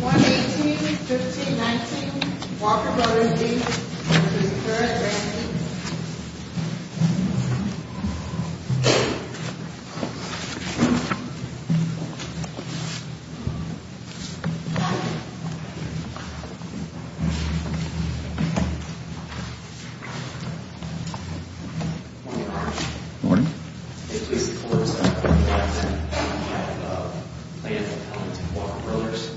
18, 13, 19 Walker Brothers Beach, which is current Randy. Morning, Your Honor. Morning. It pleases the Court, Your Honor, that I have planned to come to Walker Brothers.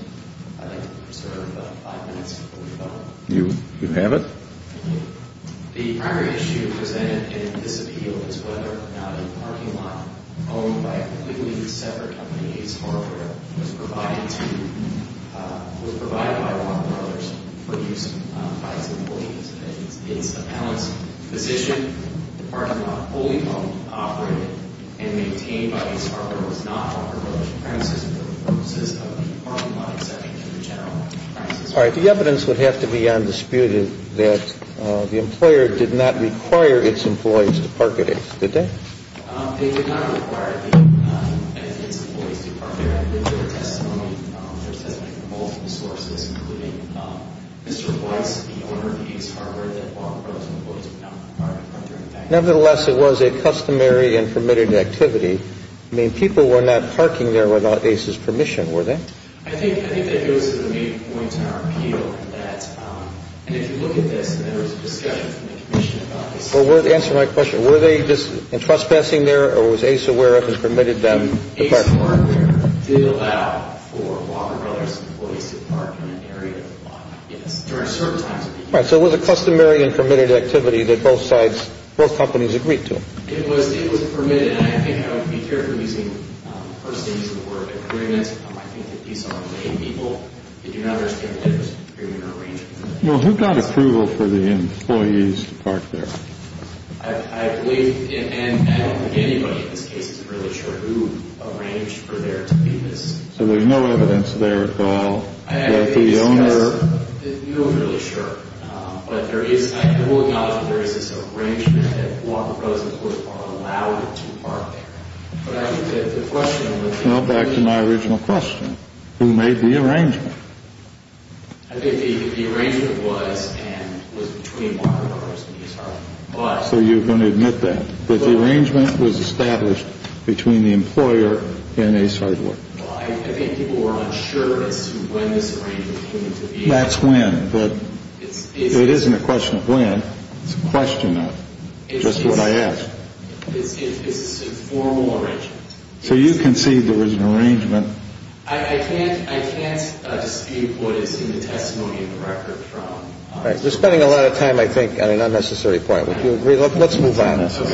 I'd like to reserve five minutes before we vote. You have it. Thank you. The primary issue presented in this appeal is whether or not a parking lot owned by a completely separate company, Ace Hardware, was provided by Walker Brothers for use by its employees. It's a balanced position. The parking lot fully operated and maintained by Ace Hardware was not offered by the premises for the purposes of the parking lot exception to the general premises. All right. The evidence would have to be undisputed that the employer did not require its employees to park at Ace, did they? They did not require the employees to park there. There's testimony from multiple sources, including Mr. Weiss, the owner of Ace Hardware, that Walker Brothers employees did not require their employees to park there. Nevertheless, it was a customary and permitted activity. I mean, people were not parking there without Ace's permission, were they? I think that goes to the main point in our appeal, and if you look at this, there was a discussion from the Commission about this. Well, answer my question. Were they just trespassing there, or was Ace aware of it and permitted them to park there? Well, Ace Hardware did allow for Walker Brothers employees to park in an area of the block. Yes. During certain times of the year. All right. So it was a customary and permitted activity that both sides, both companies agreed to. It was permitted, and I think I would be careful using the first stage of the word agreements. I think that these are paid people. They do not understand that there's an agreement or arrangement. Well, who got approval for the employees to park there? I believe, and I don't think anybody in this case is really sure who arranged for there to be this. So there's no evidence there at all that the owner. No, I'm really sure. But I will acknowledge that there is this arrangement that Walker Brothers, of course, are allowed to park there. But I think that the question would be... Well, back to my original question. Who made the arrangement? I think the arrangement was between Walker Brothers and Ace Hardware. So you're going to admit that, that the arrangement was established between the employer and Ace Hardware? Well, I think people were unsure as to when this arrangement came into being. That's when, but it isn't a question of when. It's a question of just what I asked. It's a formal arrangement. So you concede there was an arrangement. I can't dispute what is in the testimony of the record from... All right. We're spending a lot of time, I think, on an unnecessary point. Would you agree? Let's move on. Thank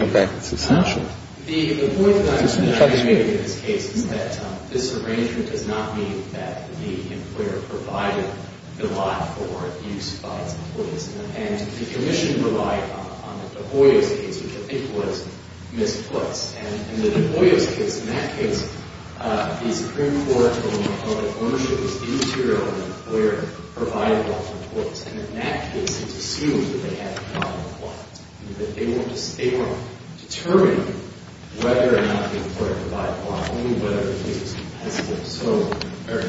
you. It's essential. The point that I'm trying to make in this case is that this arrangement does not mean that the employer provided the lot for use by its employees. And the commission relied on the deployer's case, which I think was Ms. Foote's. And in the deployer's case, in that case, the Supreme Court and the public ownership was the material that the employer provided off of Foote's. And in that case, it's assumed that they had a common plot. That they were determining whether or not the employer provided the lot. I mean, whether or not it was based on the fact that the employer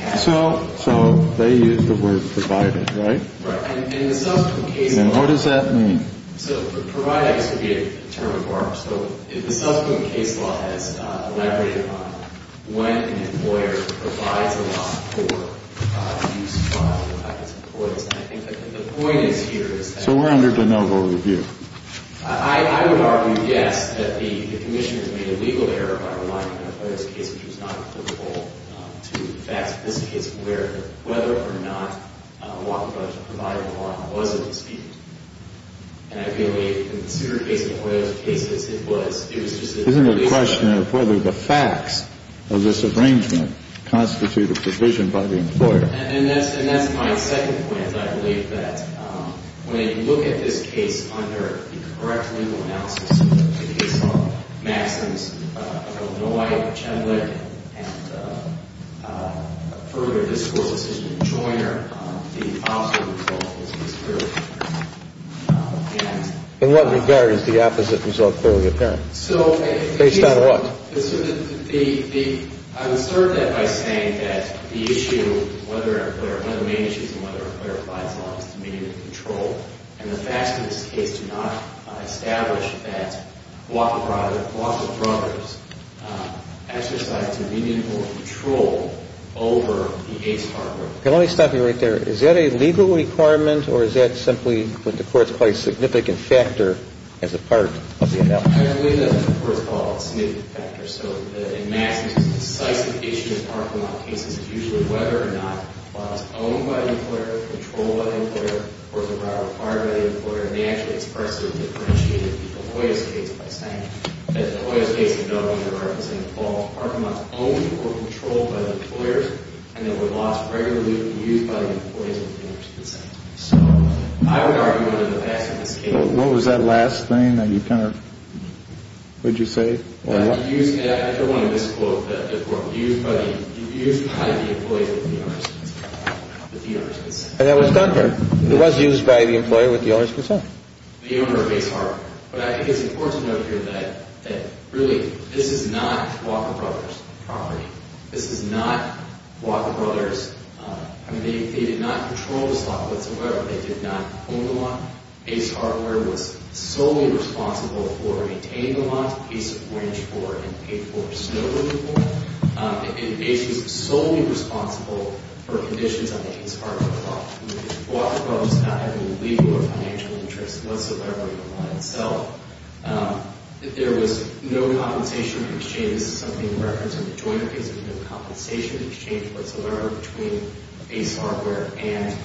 had it. So they used the word provided, right? Right. And the subsequent case law... And what does that mean? So provided, I guess, would be a term of art. So the subsequent case law has elaborated on when an employer provides a lot for use by its employees. And I think the point is here is that... So we're under de novo review. I would argue, yes, that the commissioners made a legal error by relying on the employer's case, which was not applicable to the facts of this case. Where whether or not a lot was provided or not was a dispute. And I believe in the super case and the employer's case, it was... Isn't it a question of whether the facts of this arrangement constitute a provision by the employer? And that's my second point. I believe that when you look at this case under the correct legal analysis, in the case of Maxens, Illinois, Chandler, and further this Court's decision in Joyner... The opposite result is... In what regard is the opposite result clearly apparent? So... Based on what? Well, the... I would assert that by saying that the issue... One of the main issues is whether or not the employer provides a lot of disobedient control. And the facts of this case do not establish that a lot of the providers exercised disobedient or control over the ACE hardware. Let me stop you right there. Is that a legal requirement or is that simply what the Court's quite significant factor as a part of the analysis? I believe that the Court's called it a significant factor. So, in Maxens, the decisive issue in Parkamont cases is usually whether or not a lot is owned by the employer, controlled by the employer, or the right required by the employer. And they actually expressly differentiated the Hoyas case by saying that the Hoyas case in Illinois... Was involved... Parkamont owned or controlled by the employers. And there were lots regularly used by the employers. So, I would argue under the facts of this case. What was that last thing that you kind of... What did you say? Used... I don't want to misquote the court. Used by the... Used by the employer with the honors consent. And that was done here. It was used by the employer with the honors consent. The owner of ACE hardware. But I think it's important to note here that... That really, this is not Walker Brothers property. This is not Walker Brothers. I mean, they did not control this lot whatsoever. They did not own the lot. ACE hardware was solely responsible for maintaining the lot. ACE arranged for and paid for snow removal. And ACE was solely responsible for conditions on the ACE hardware lot. Walker Brothers did not have any legal or financial interest whatsoever in the lot itself. There was no compensation exchange. This is something in reference to the joint case. There was no compensation exchange whatsoever. ACE hardware and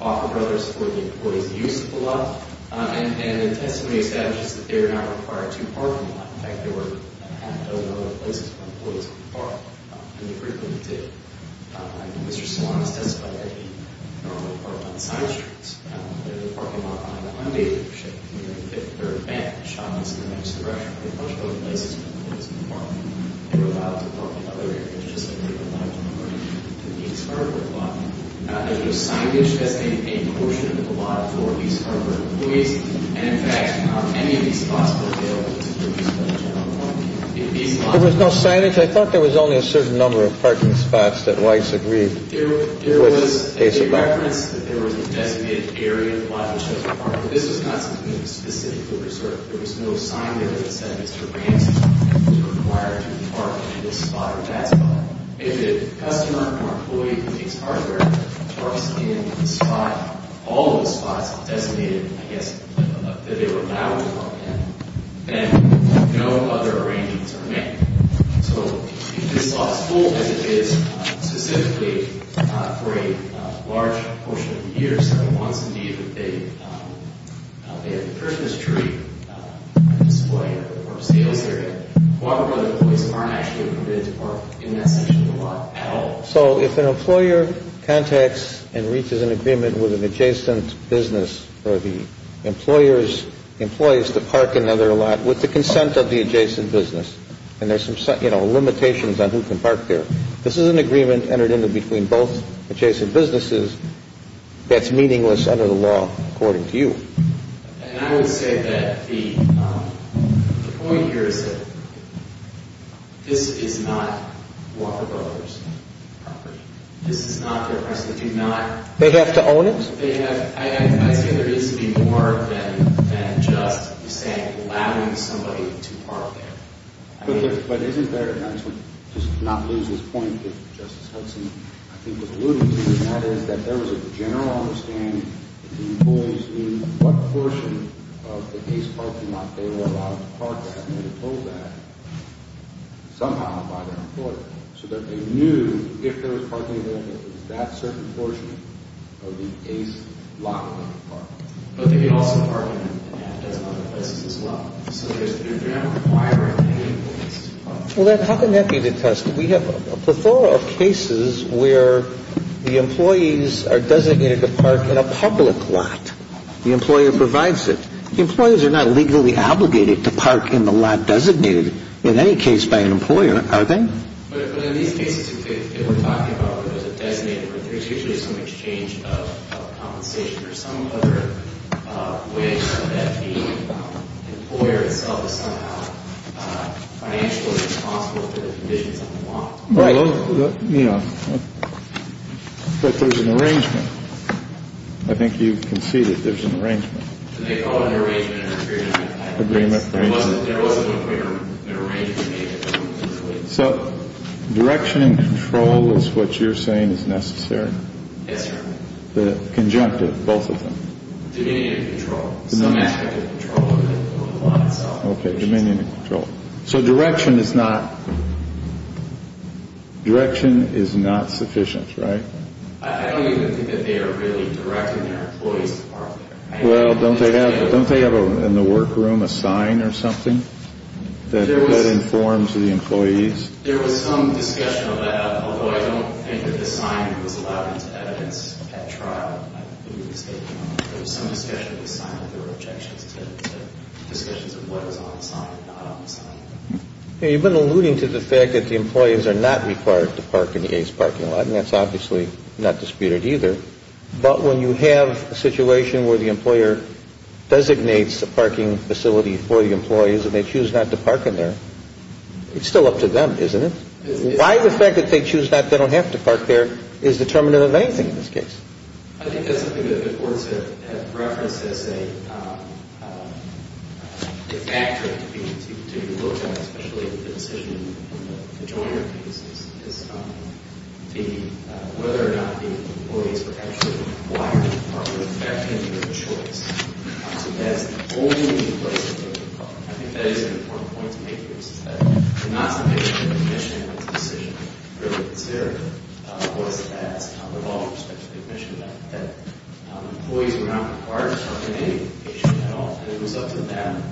Walker Brothers for the employee's use of the lot. And the testimony establishes that they are not required to park in the lot. In fact, there were a half a dozen other places where employees could park. And they frequently did. I think Mr. Swan has testified that they normally park on side streets. They were parking lot behind the Hyundai dealership. And when they hit the third bank, the shop was in the next direction. There were a bunch of other places where employees could park. They were allowed to park in other areas, just like they were allowed to park in the ACE hardware lot. There was signage that stated a portion of the lot for ACE hardware employees. And, in fact, not many of these spots were available to produce that general property. If these lots were available. There was no signage? I thought there was only a certain number of parking spots that Rice agreed. There was a reference that there was a designated area in the lot which has a parking lot. This was not specifically reserved. There was no sign that said Mr. Ramsey was required to park in this spot or that spot. If a customer or employee who takes hardware parks in the spot, all of the spots designated, I guess, that they were allowed to park in, then no other arrangements are made. So, if this lot is full as it is, specifically for a large portion of the year, So, if an employer contacts and reaches an agreement with an adjacent business or the employer's employees to park another lot with the consent of the adjacent business, and there's some, you know, limitations on who can park there, this is an agreement entered into between both adjacent businesses that's meaningless under the law, according to you. And I would say that the point here is that this is not Walker Builders property. This is not their property. They do not. They have to own it? I'd say there is to be more than just allowing somebody to park there. But isn't there, and I just want to not lose this point that Justice Hudson, I think, was alluding to, and that is that there was a general understanding that the employees knew what portion of the ACE parking lot they were allowed to park at, and they were told that somehow by their employer, so that they knew if there was parking there, if it was that certain portion of the ACE lot that they could park. But they could also park in other places as well. So they're not requiring any employees to park. Well, then how can that be detested? We have a plethora of cases where the employees are designated to park in a public lot. The employer provides it. Employees are not legally obligated to park in the lot designated in any case by an employer, are they? But in these cases that we're talking about where there's a designated, there's usually some exchange of compensation or some other way that the employer itself is somehow financially responsible for the conditions of the lot. Right. Yeah. But there's an arrangement. I think you can see that there's an arrangement. They call it an arrangement. There wasn't an arrangement made. So direction and control is what you're saying is necessary? Yes, sir. The conjunctive, both of them. Dominion and control. Some aspect of control. Okay, dominion and control. So direction is not sufficient, right? I don't even think that they are really directing their employees to park there. Well, don't they have in the workroom a sign or something that informs the employees? There was some discussion about that, although I don't think that the sign was allowed into evidence at trial. I believe it was taken off. There was some discussion of the sign, but there were objections to discussions of what was on the sign and not on the sign. You've been alluding to the fact that the employees are not required to park in the ACE parking lot, and that's obviously not disputed either. But when you have a situation where the employer designates a parking facility for the employees and they choose not to park in there, it's still up to them, isn't it? Why the fact that they choose not, they don't have to park there, is determinative of anything in this case? I think that's something that the courts have referenced as a factor to look at, especially with the decision in the Joyner case, is whether or not the employees were actually required to park, or if that came to be a choice. So that's the only place that they could park. I think that is an important point to make here, which is that the not-so-vigilant admission in this decision really is there. Of course, it adds, with all respects to the admission, that employees were not required to park in any location at all, and it was up to them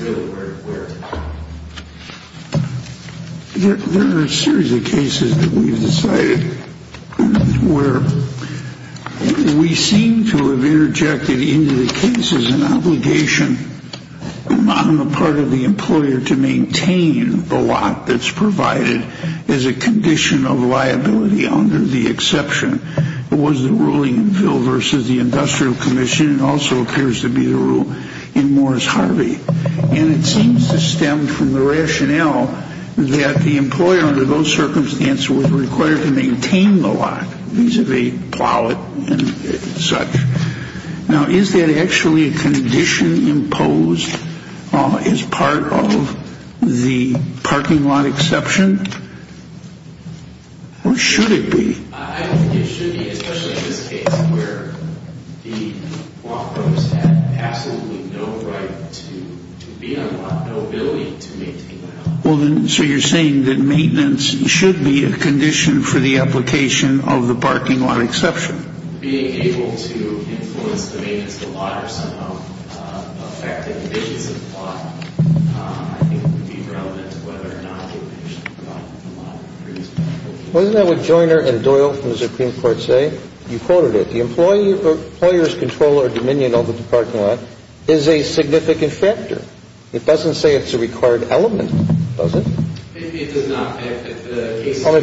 really where to park. There are a series of cases that we've decided where we seem to have interjected into the case as an obligation on the part of the employer to maintain the lot that's provided as a condition of liability under the exception. It was the ruling in Phil v. The Industrial Commission. It also appears to be the rule in Morris Harvey. And it seems to stem from the rationale that the employer, under those circumstances, was required to maintain the lot vis-à-vis plow it and such. Now, is that actually a condition imposed as part of the parking lot exception, or should it be? I don't think it should be, especially in this case, where the law firms had absolutely no right to be on the lot, no ability to maintain the lot. Well, so you're saying that maintenance should be a condition for the application of the parking lot exception? Being able to influence the maintenance of the lot or somehow affect the conditions of the lot, I think would be relevant to whether or not the employer should be on the lot. Wasn't that what Joyner and Doyle from the Supreme Court say? You quoted it. The employer's control or dominion over the parking lot is a significant factor. It doesn't say it's a required element, does it? It does not. If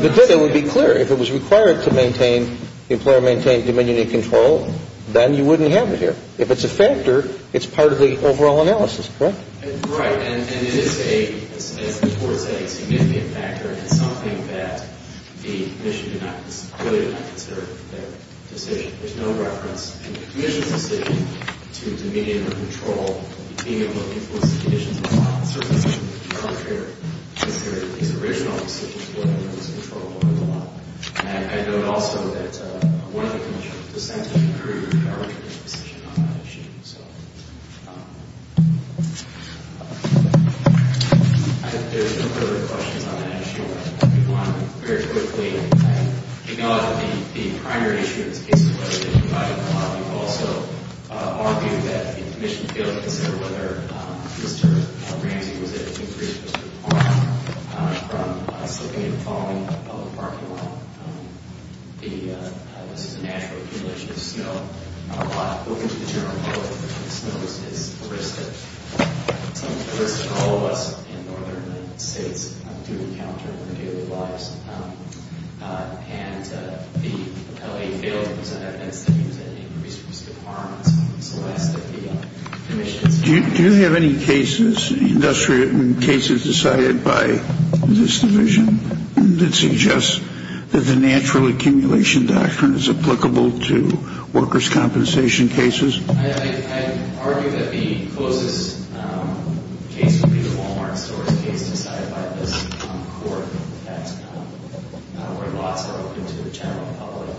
it did, it would be clear. If it was required to maintain, the employer maintained dominion and control, then you wouldn't have it here. If it's a factor, it's part of the overall analysis, correct? Right. And it is a, as the court said, a significant factor, and it's something that the commission did not, really did not consider their decision. There's no reference in the commission's decision to dominion or control, being able to influence the conditions of the lot. Certainly, it would be contrary, considering these original decisions, whether there was control over the lot. And I note also that one of the commissioners dissented, and agreed with our original decision on that issue. So, I think there's no further questions on that issue. I'll move on very quickly. I acknowledge that the primary issue in this case is whether they divided the lot. We've also argued that the commission failed to consider whether Mr. Ramsey was able to increase Mr. Ramsey. Do you have any cases, cases decided by this division, that suggests that the natural accumulation doctrine is applicable to workers' compensation cases? I argue that the closest case would be the Wal-Mart stores case decided by this court. That's where lots are open to the general public.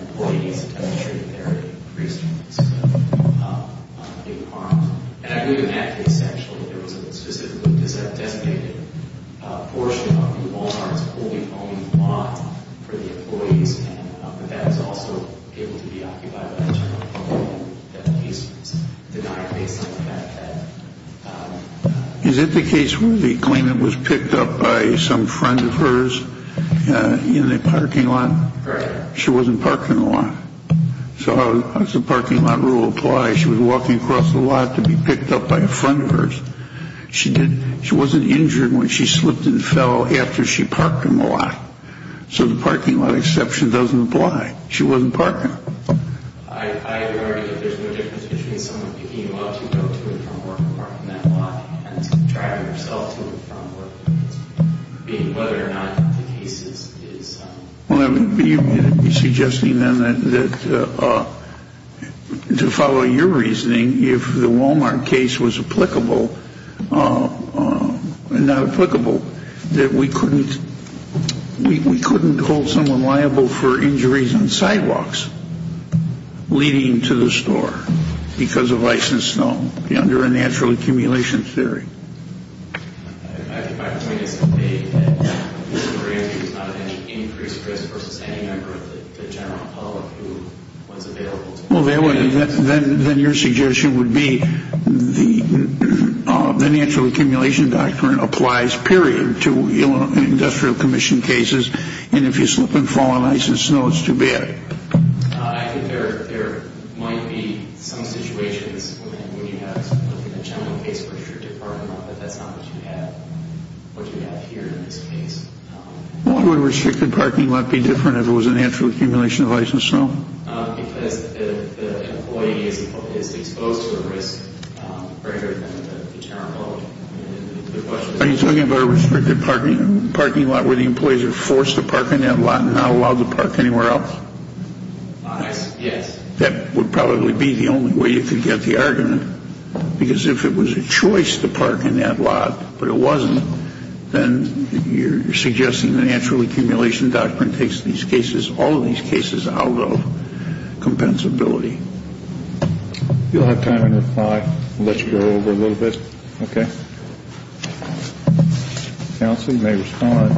Employees, I'm sure, there are increased requirements. And I believe in that case, actually, there was a specifically designated portion of the Wal-Mart's holding only one for the employees. And that is also able to be occupied by the general public. That case was denied based on the fact that... Is it the case where the claimant was picked up by some friend of hers in the parking lot? Correct. She wasn't parking the lot. So how does the parking lot rule apply? She was walking across the lot to be picked up by a friend of hers. She wasn't injured when she slipped and fell after she parked in the lot. So the parking lot exception doesn't apply. She wasn't parking. I argue that there's no difference between someone picking you up to go to a front work apartment lot and driving herself to a front work apartment. I mean, whether or not the case is... Well, you're suggesting then that, to follow your reasoning, if the Wal-Mart case was applicable, not applicable, that we couldn't hold someone liable for injuries on sidewalks leading to the store because of ice and snow under a natural accumulation theory. I think my point is to say that the grantee does not have any increased risk versus any member of the general public who was available to... Well, then your suggestion would be the natural accumulation doctrine applies, period, to industrial commission cases, and if you slip and fall on ice and snow, it's too bad. I think there might be some situations when you have something like in the general case where you're departing a lot, but that's not what you have here in this case. Why would a restricted parking lot be different if it was a natural accumulation of ice and snow? Because the employee is exposed to the risk greater than the general public. Are you talking about a restricted parking lot where the employees are forced to park in that lot and not allowed to park anywhere else? Ice, yes. That would probably be the only way you could get the argument, because if it was a choice to park in that lot but it wasn't, then you're suggesting the natural accumulation doctrine takes these cases, although compensability. If you'll have time to reply, we'll let you go over a little bit. Okay. Counsel, you may respond.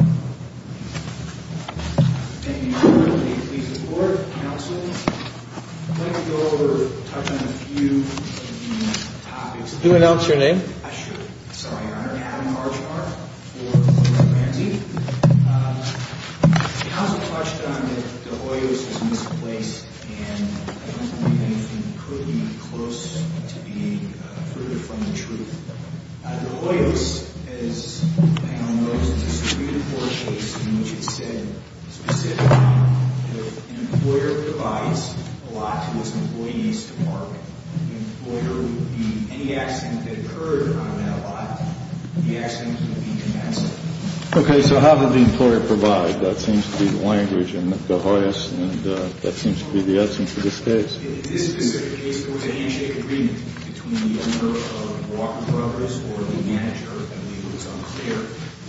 Thank you, Your Honor. Please report, counsel. I'd like to go over and touch on a few of these topics. I should. I'm sorry, Your Honor. I have a question on De Hoyos' misplaced, and I don't believe anything could be close to being further from the truth. De Hoyos, as the panel knows, is a Supreme Court case in which it said specifically that an employer provides a lot to its employees to park. The employer would be any accident that occurred on that lot, the accident would be commensurate. Okay. So how did the employer provide? That seems to be the language in De Hoyos, and that seems to be the answer to this case. This specific case was a handshake agreement between the owner of Walker Brothers or the manager, I believe it's unclear,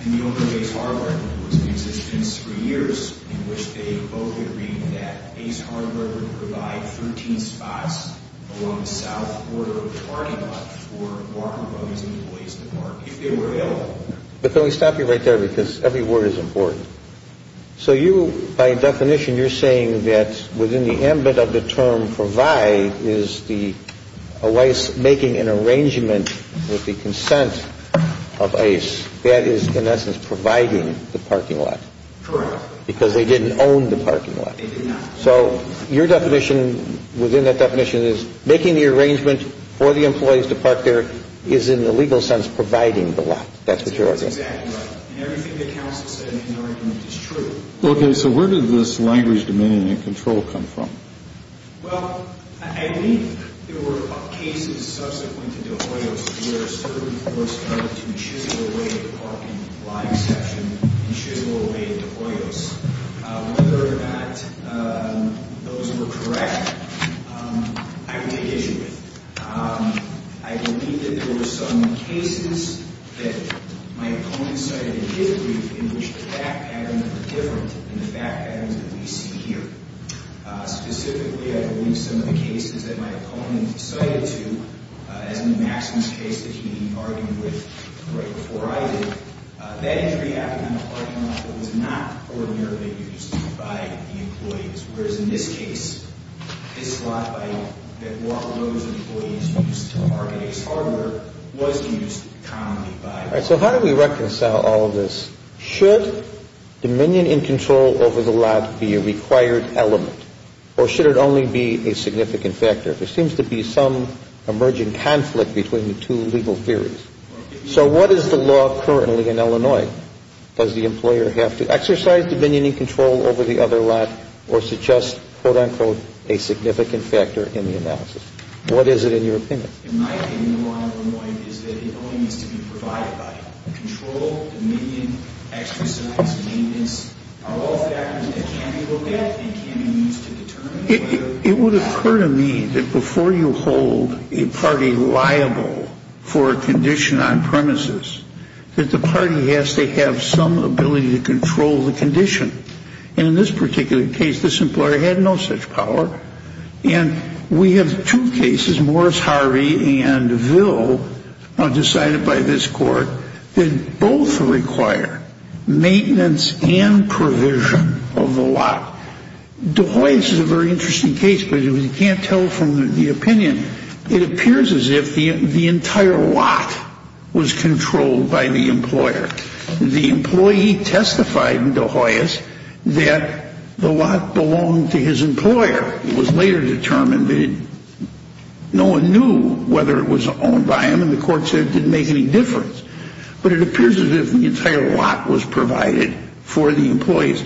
and the owner of Ace Hardware. It was in existence for years in which they both agreed that Ace Hardware would provide routine spots along the south border of the parking lot for Walker Brothers employees to park if they were available. But can we stop you right there, because every word is important. So you, by definition, you're saying that within the ambit of the term provide is the employees making an arrangement with the consent of Ace that is, in essence, providing the parking lot. Correct. Because they didn't own the parking lot. They did not. So your definition within that definition is making the arrangement for the employees to park there is, in the legal sense, providing the lot. That's what you're arguing. That's exactly right. And everything that counsel said in the argument is true. Okay. So where did this language, dominion, and control come from? Well, I think there were cases subsequent to De Hoyos where a certain force started to chisel away the parking lot exception and chisel away De Hoyos. Whether or not those were correct, I would take issue with. I believe that there were some cases that my opponent cited in his brief in which the fact patterns were different than the fact patterns that we see here. Specifically, I believe some of the cases that my opponent cited to as an exception, and I believe some of the cases that he argued with right before I did, that injury happened on the parking lot that was not ordinarily used by the employees. Whereas in this case, this lot that was used to park Ace Hardware was used commonly by the employees. All right. So how do we reconcile all of this? Should dominion and control over the lot be a required element, or should it only be a significant factor? There seems to be some emerging conflict between the two legal theories. So what is the law currently in Illinois? Does the employer have to exercise dominion and control over the other lot, or suggest, quote-unquote, a significant factor in the analysis? What is it in your opinion? In my opinion, the law in Illinois is that it only needs to be provided by it. Control, dominion, exercise, convenience are all factors that can be looked at and can be used to determine whether or not. It would occur to me that before you hold a party liable for a condition on premises, that the party has to have some ability to control the condition. And in this particular case, this employer had no such power. And we have two cases, Morris Harvey and Ville, decided by this court, that both require maintenance and provision of the lot. DeHoyes is a very interesting case, but you can't tell from the opinion. It appears as if the entire lot was controlled by the employer. The employee testified in DeHoyes that the lot belonged to his employer. It was later determined that no one knew whether it was owned by him, and the court said it didn't make any difference. But it appears as if the entire lot was provided for the employees.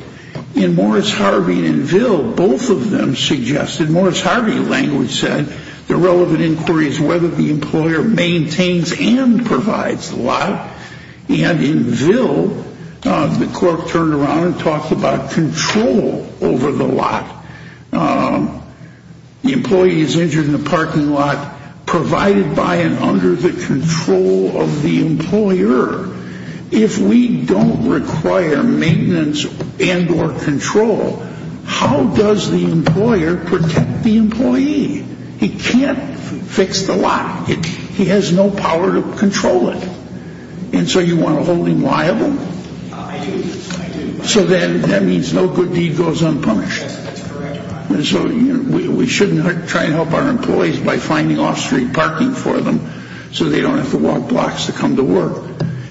In Morris Harvey and Ville, both of them suggested, Morris Harvey language said, the relevant inquiry is whether the employer maintains and provides the lot. And in Ville, the court turned around and talked about control over the lot. The employee is injured in the parking lot, provided by and under the control of the employer. If we don't require maintenance and or control, how does the employer protect the employee? He can't fix the lot. He has no power to control it. And so you want to hold him liable? So then that means no good deed goes unpunished. So we shouldn't try to help our employees by finding off-street parking for them, so they don't have to walk blocks to come to work.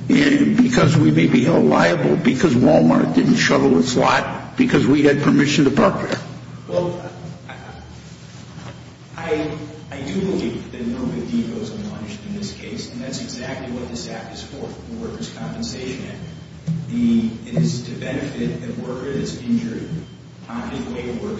And because we may be held liable because Walmart didn't shovel its lot, because we had permission to park there. Well, I do believe that no good deed goes unpunished in this case, and that's exactly what this act is for, the workers' compensation act. It is to benefit the worker that's injured,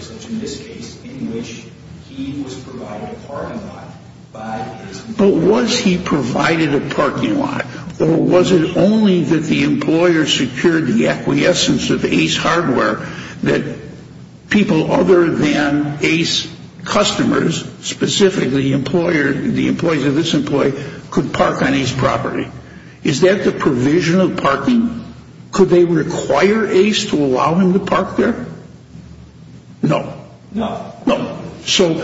such in this case in which he was provided a parking lot by his employer. But was he provided a parking lot, or was it only that the employer secured the acquiescence of Ace Hardware that people other than Ace customers, specifically the employees of this employee, could park on Ace property? Is that the provision of parking? Could they require Ace to allow him to park there? No. No. No. So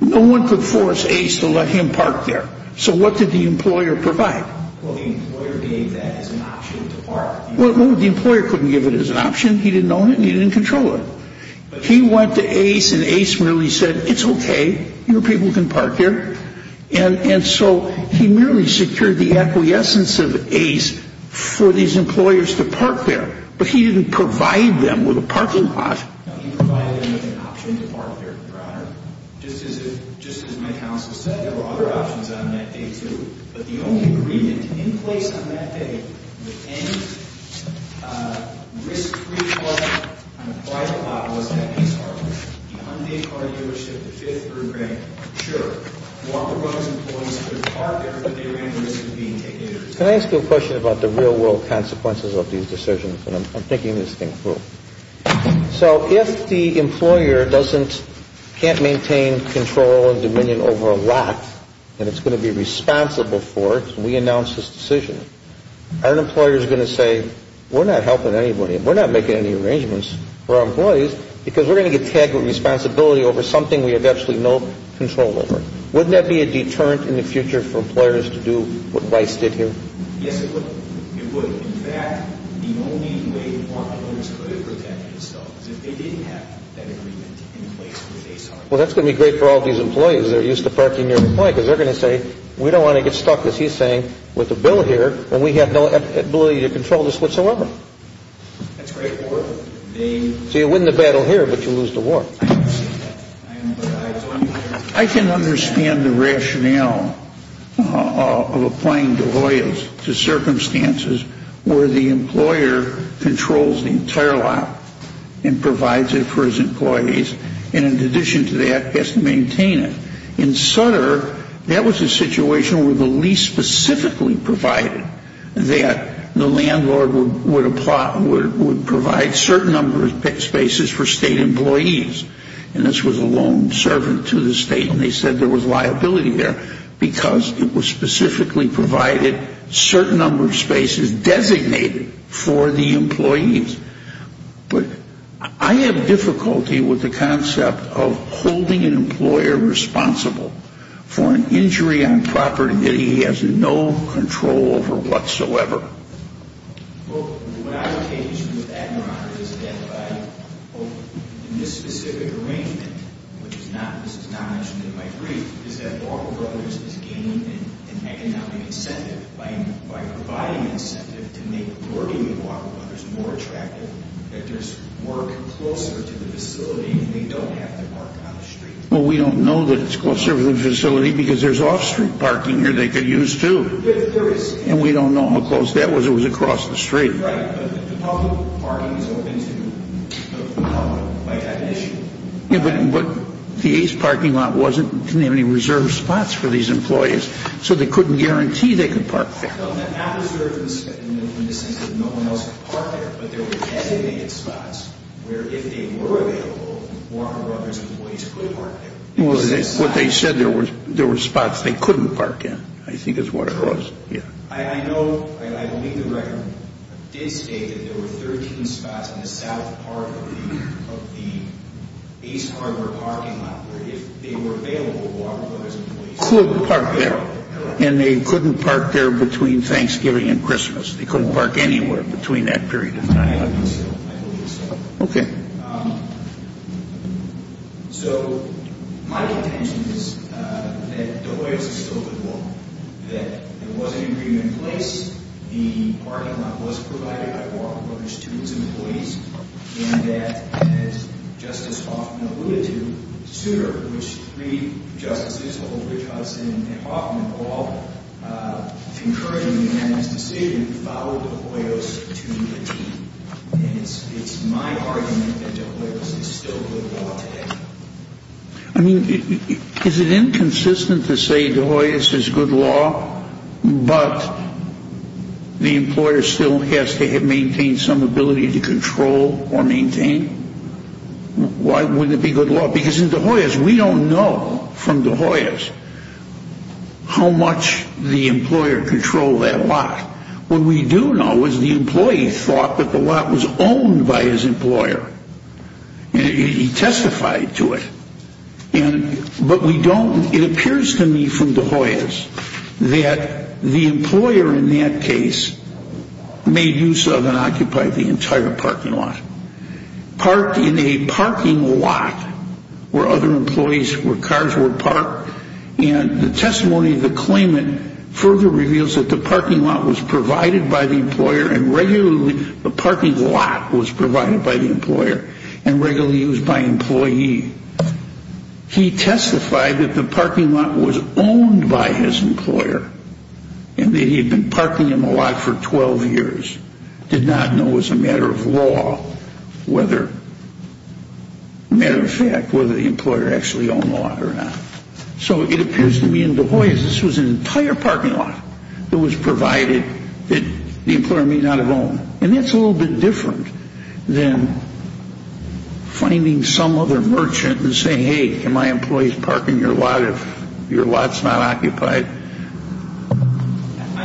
no one could force Ace to let him park there. So what did the employer provide? Well, the employer gave that as an option to park. Well, the employer couldn't give it as an option. He didn't own it, and he didn't control it. He went to Ace, and Ace merely said, it's okay, your people can park there. And so he merely secured the acquiescence of Ace for these employers to park there, but he didn't provide them with a parking lot. No, he provided them with an option to park there, Your Honor. Just as my counsel said, there were other options on that day too, but the only agreement in place on that day with any risk-free product on a private lot was that Ace Hardware, the Hyundai Car Dealership, the fifth group rank, sure, wanted those employees to park there, but they ran the risk of being taken into custody. Can I ask you a question about the real-world consequences of these decisions? And I'm thinking this thing through. So if the employer can't maintain control and dominion over a lot, and it's going to be responsible for it, and we announce this decision, are employers going to say, we're not helping anybody, we're not making any arrangements for our employees, because we're going to get tagged with responsibility over something we have absolutely no control over? Wouldn't that be a deterrent in the future for employers to do what Rice did here? Yes, it would. It would. In fact, the only way employers could protect themselves is if they didn't have that agreement in place with Ace Hardware. Well, that's going to be great for all these employees that are used to parking near the point, because they're going to say, we don't want to get stuck, as he's saying, with the bill here, and we have no ability to control this whatsoever. That's great for them. So you win the battle here, but you lose the war. I can understand the rationale of applying Deloyer's to circumstances where the employer controls the entire lot and provides it for his employees, and in addition to that, has to maintain it. In Sutter, that was a situation where the lease specifically provided that the landlord would provide a certain number of spaces for state employees, and this was a lone servant to the state, and they said there was liability there, because it was specifically provided a certain number of spaces designated for the employees. But I have difficulty with the concept of holding an employer responsible for an injury on property that he has no control over whatsoever. Well, what I would say to you with that, Your Honor, is that in this specific arrangement, which is not mentioned in my brief, is that Walker Brothers is gaining an economic incentive by providing incentive to make working at Walker Brothers more attractive, that there's work closer to the facility and they don't have to park on the street. Well, we don't know that it's closer to the facility, because there's off-street parking here they could use, too. And we don't know how close that was. It was across the street. But the ACE parking lot didn't have any reserved spots for these employees, so they couldn't guarantee they could park there. Well, not reserved in the sense that no one else could park there, but there were designated spots where, if they were available, Walker Brothers employees could park there. Well, what they said, there were spots they couldn't park in, I think is what it was. Yeah. I know, I believe the record did state that there were 13 spots in the south part of the ACE parking lot where, if they were available, Walker Brothers employees could park there. And they couldn't park there between Thanksgiving and Christmas. They couldn't park anywhere between that period of time. I believe so. Okay. So, my contention is that the way it was instilled in Walker, that there was an agreement in place, the parking lot was provided by Walker Brothers to its employees, and that, as Justice Hoffman alluded to, Souter, which three justices, Holtridge, Hudson, and Hoffman, all concurred in the amendment's decision, followed De Hoyos to 18. And it's my argument that De Hoyos is still good law today. I mean, is it inconsistent to say De Hoyos is good law, but the employer still has to maintain some ability to control or maintain? Why wouldn't it be good law? Because in De Hoyos, we don't know from De Hoyos how much the employer controlled that lot. What we do know is the employee thought that the lot was owned by his employer. He testified to it. But we don't, it appears to me from De Hoyos, that the employer in that case made use of and occupied the entire parking lot. Parked in a parking lot where other employees' cars were parked, and the testimony of the claimant further reveals that the parking lot was provided by the employer and regularly used by employee. He testified that the parking lot was owned by his employer and that he had been parking in the lot for 12 years. Did not know as a matter of law whether, matter of fact, whether the employer actually owned the lot or not. So it appears to me in De Hoyos, this was an entire parking lot that was provided that the employer may not have owned. And that's a little bit different than finding some other merchant and saying, hey, can my employees park in your lot if your lot's not occupied? I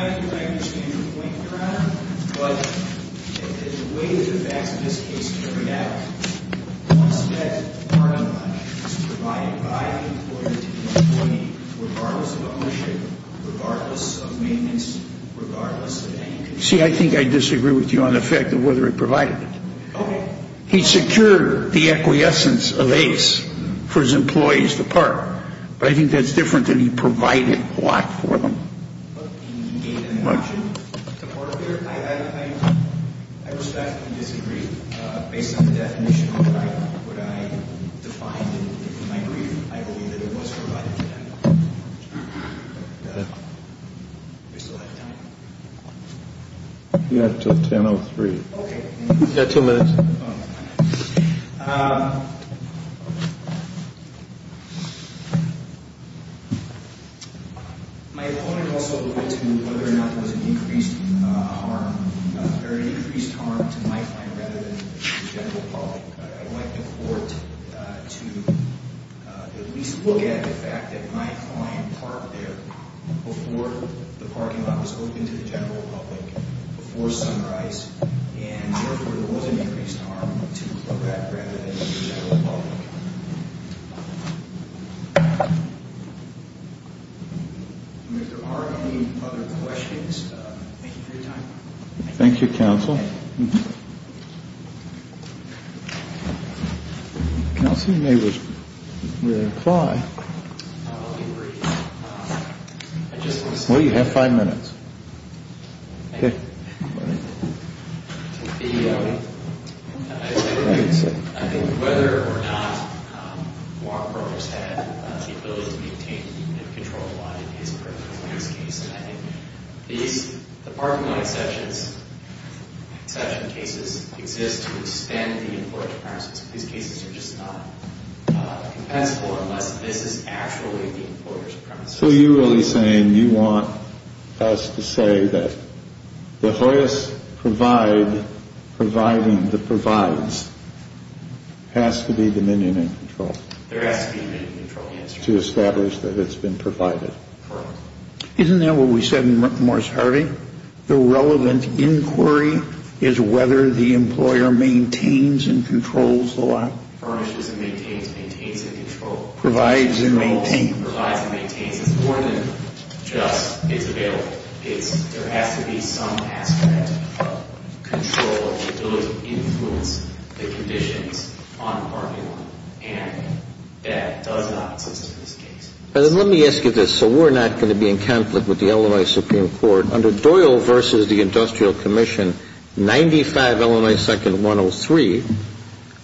understand your point, Your Honor, but the way that the facts of this case carry out, once that parking lot is provided by the employer to the employee, regardless of ownership, regardless of maintenance, regardless of anything. See, I think I disagree with you on the fact of whether it provided it. Okay. But I think that's different than he provided the lot for them. You have until 10.03. Okay. You've got two minutes. My opponent also alluded to whether or not there was an increased harm, or an increased harm to my client rather than to the general public. I'd like the court to at least look at the fact that my client parked there before the parking lot was opened to the general public, before sunrise, and therefore there was an increased harm to that rather than to the general public. If there are any other questions, thank you for your time. Thank you, counsel. Well, you have five minutes. I think whether or not Walker Brothers had the ability to maintain and control the lot in his case, and I think the parking lot exception cases exist to expand the employer's premises. These cases are just not compensable unless this is actually the employer's premises. So you're really saying you want us to say that the Hoyas provide, providing the provides, has to be the minion in control. There has to be a minion in control, yes. To establish that it's been provided. Correct. Isn't that what we said in Morris Harvey? The relevant inquiry is whether the employer maintains and controls the lot. Furnishes and maintains, maintains and controls. Provides and maintains. Provides and maintains. It's more than just it's available. There has to be some aspect of control that would influence the conditions on the parking lot, and that does not exist in this case. Let me ask you this so we're not going to be in conflict with the Illinois Supreme Court. Under Doyle v. The Industrial Commission, 95 Illinois 2nd 103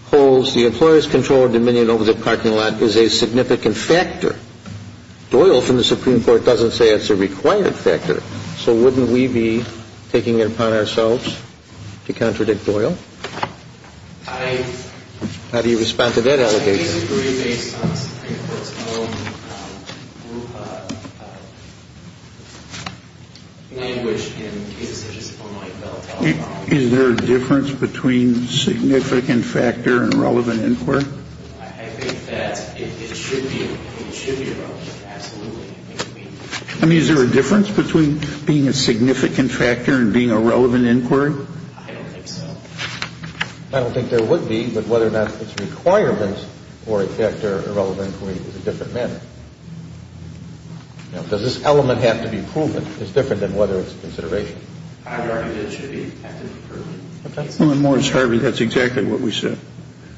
holds the employer's control over the parking lot is a significant factor. Doyle from the Supreme Court doesn't say it's a required factor. So wouldn't we be taking it upon ourselves to contradict Doyle? How do you respond to that allegation? I disagree based on the Supreme Court's own language in cases such as Illinois. Is there a difference between significant factor and relevant inquiry? I think that it should be relevant, absolutely. I mean, is there a difference between being a significant factor and being a relevant inquiry? I don't think so. I don't think there would be, but whether or not it's a requirement or a factor, a relevant inquiry is a different matter. Does this element have to be proven? It's different than whether it's consideration. I argue that it should be a factor. When Morris Harvey, that's exactly what we said.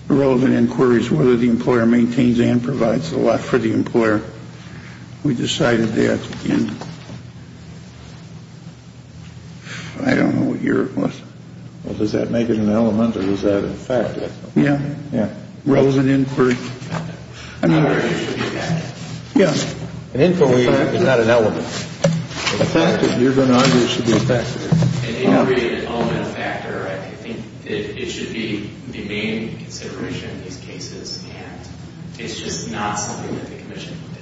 A relevant inquiry is whether the employer maintains and provides the lot for the employer. We decided that in, I don't know what year it was. Well, does that make it an element or is that a factor? Yeah, yeah. Relevant inquiry. I mean, yeah. An inquiry is not an element. A factor, you're going to argue it should be a factor. An inquiry is an element, a factor. I think that it should be the main consideration in these cases, and it's just not something that the commission looked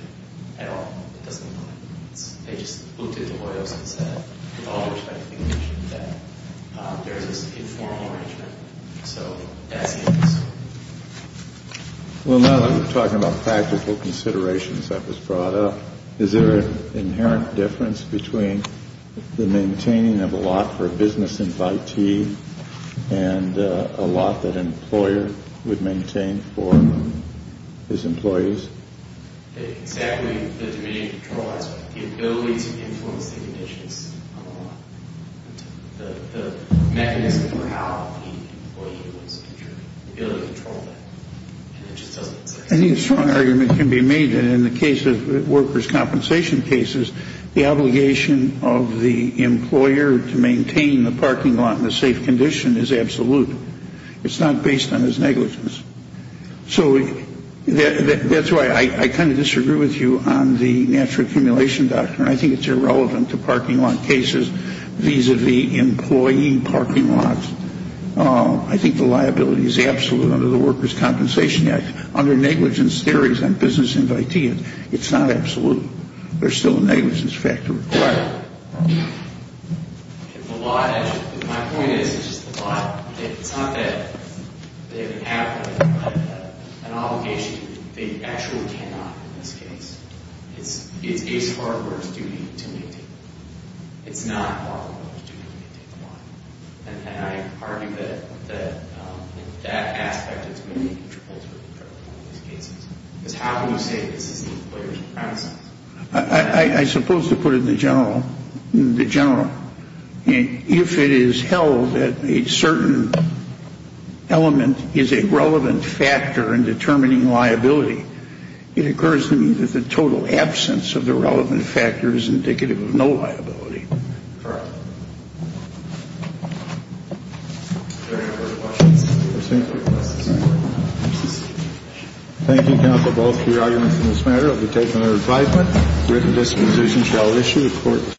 at at all. It doesn't know what it means. They just looked at the royals and said, with all due respect to the commission, that there is this informal arrangement. So that's it. Well, now that we're talking about practical considerations that was brought up, is there an inherent difference between the maintaining of a lot for a business invitee and a lot that an employer would maintain for his employees? Exactly. The ability to influence the conditions on the lot. The mechanism for how the employee was able to control that. And it just doesn't exist. I think a strong argument can be made that in the case of workers' compensation cases, the obligation of the employer to maintain the parking lot in a safe condition is absolute. It's not based on his negligence. So that's why I kind of disagree with you on the natural accumulation doctrine. I think it's irrelevant to parking lot cases vis-a-vis employee parking lots. I think the liability is absolute under the Workers' Compensation Act. Under negligence theories on business invitees, it's not absolute. There's still a negligence factor required. My point is it's just the lot. It's not that they have an obligation. They actually cannot in this case. It is hard workers' duty to maintain. It's not hard workers' duty to maintain the lot. And I argue that in that aspect, it's really contributory in these cases. Because how can you say that this is the employer's premises? I suppose to put it in the general. If it is held that a certain element is a relevant factor in determining liability, it occurs to me that the total absence of the relevant factor is indicative of no liability. All right. Any other questions? Thank you, counsel, both for your arguments on this matter. It will be taken under advisement. Written disposition shall issue.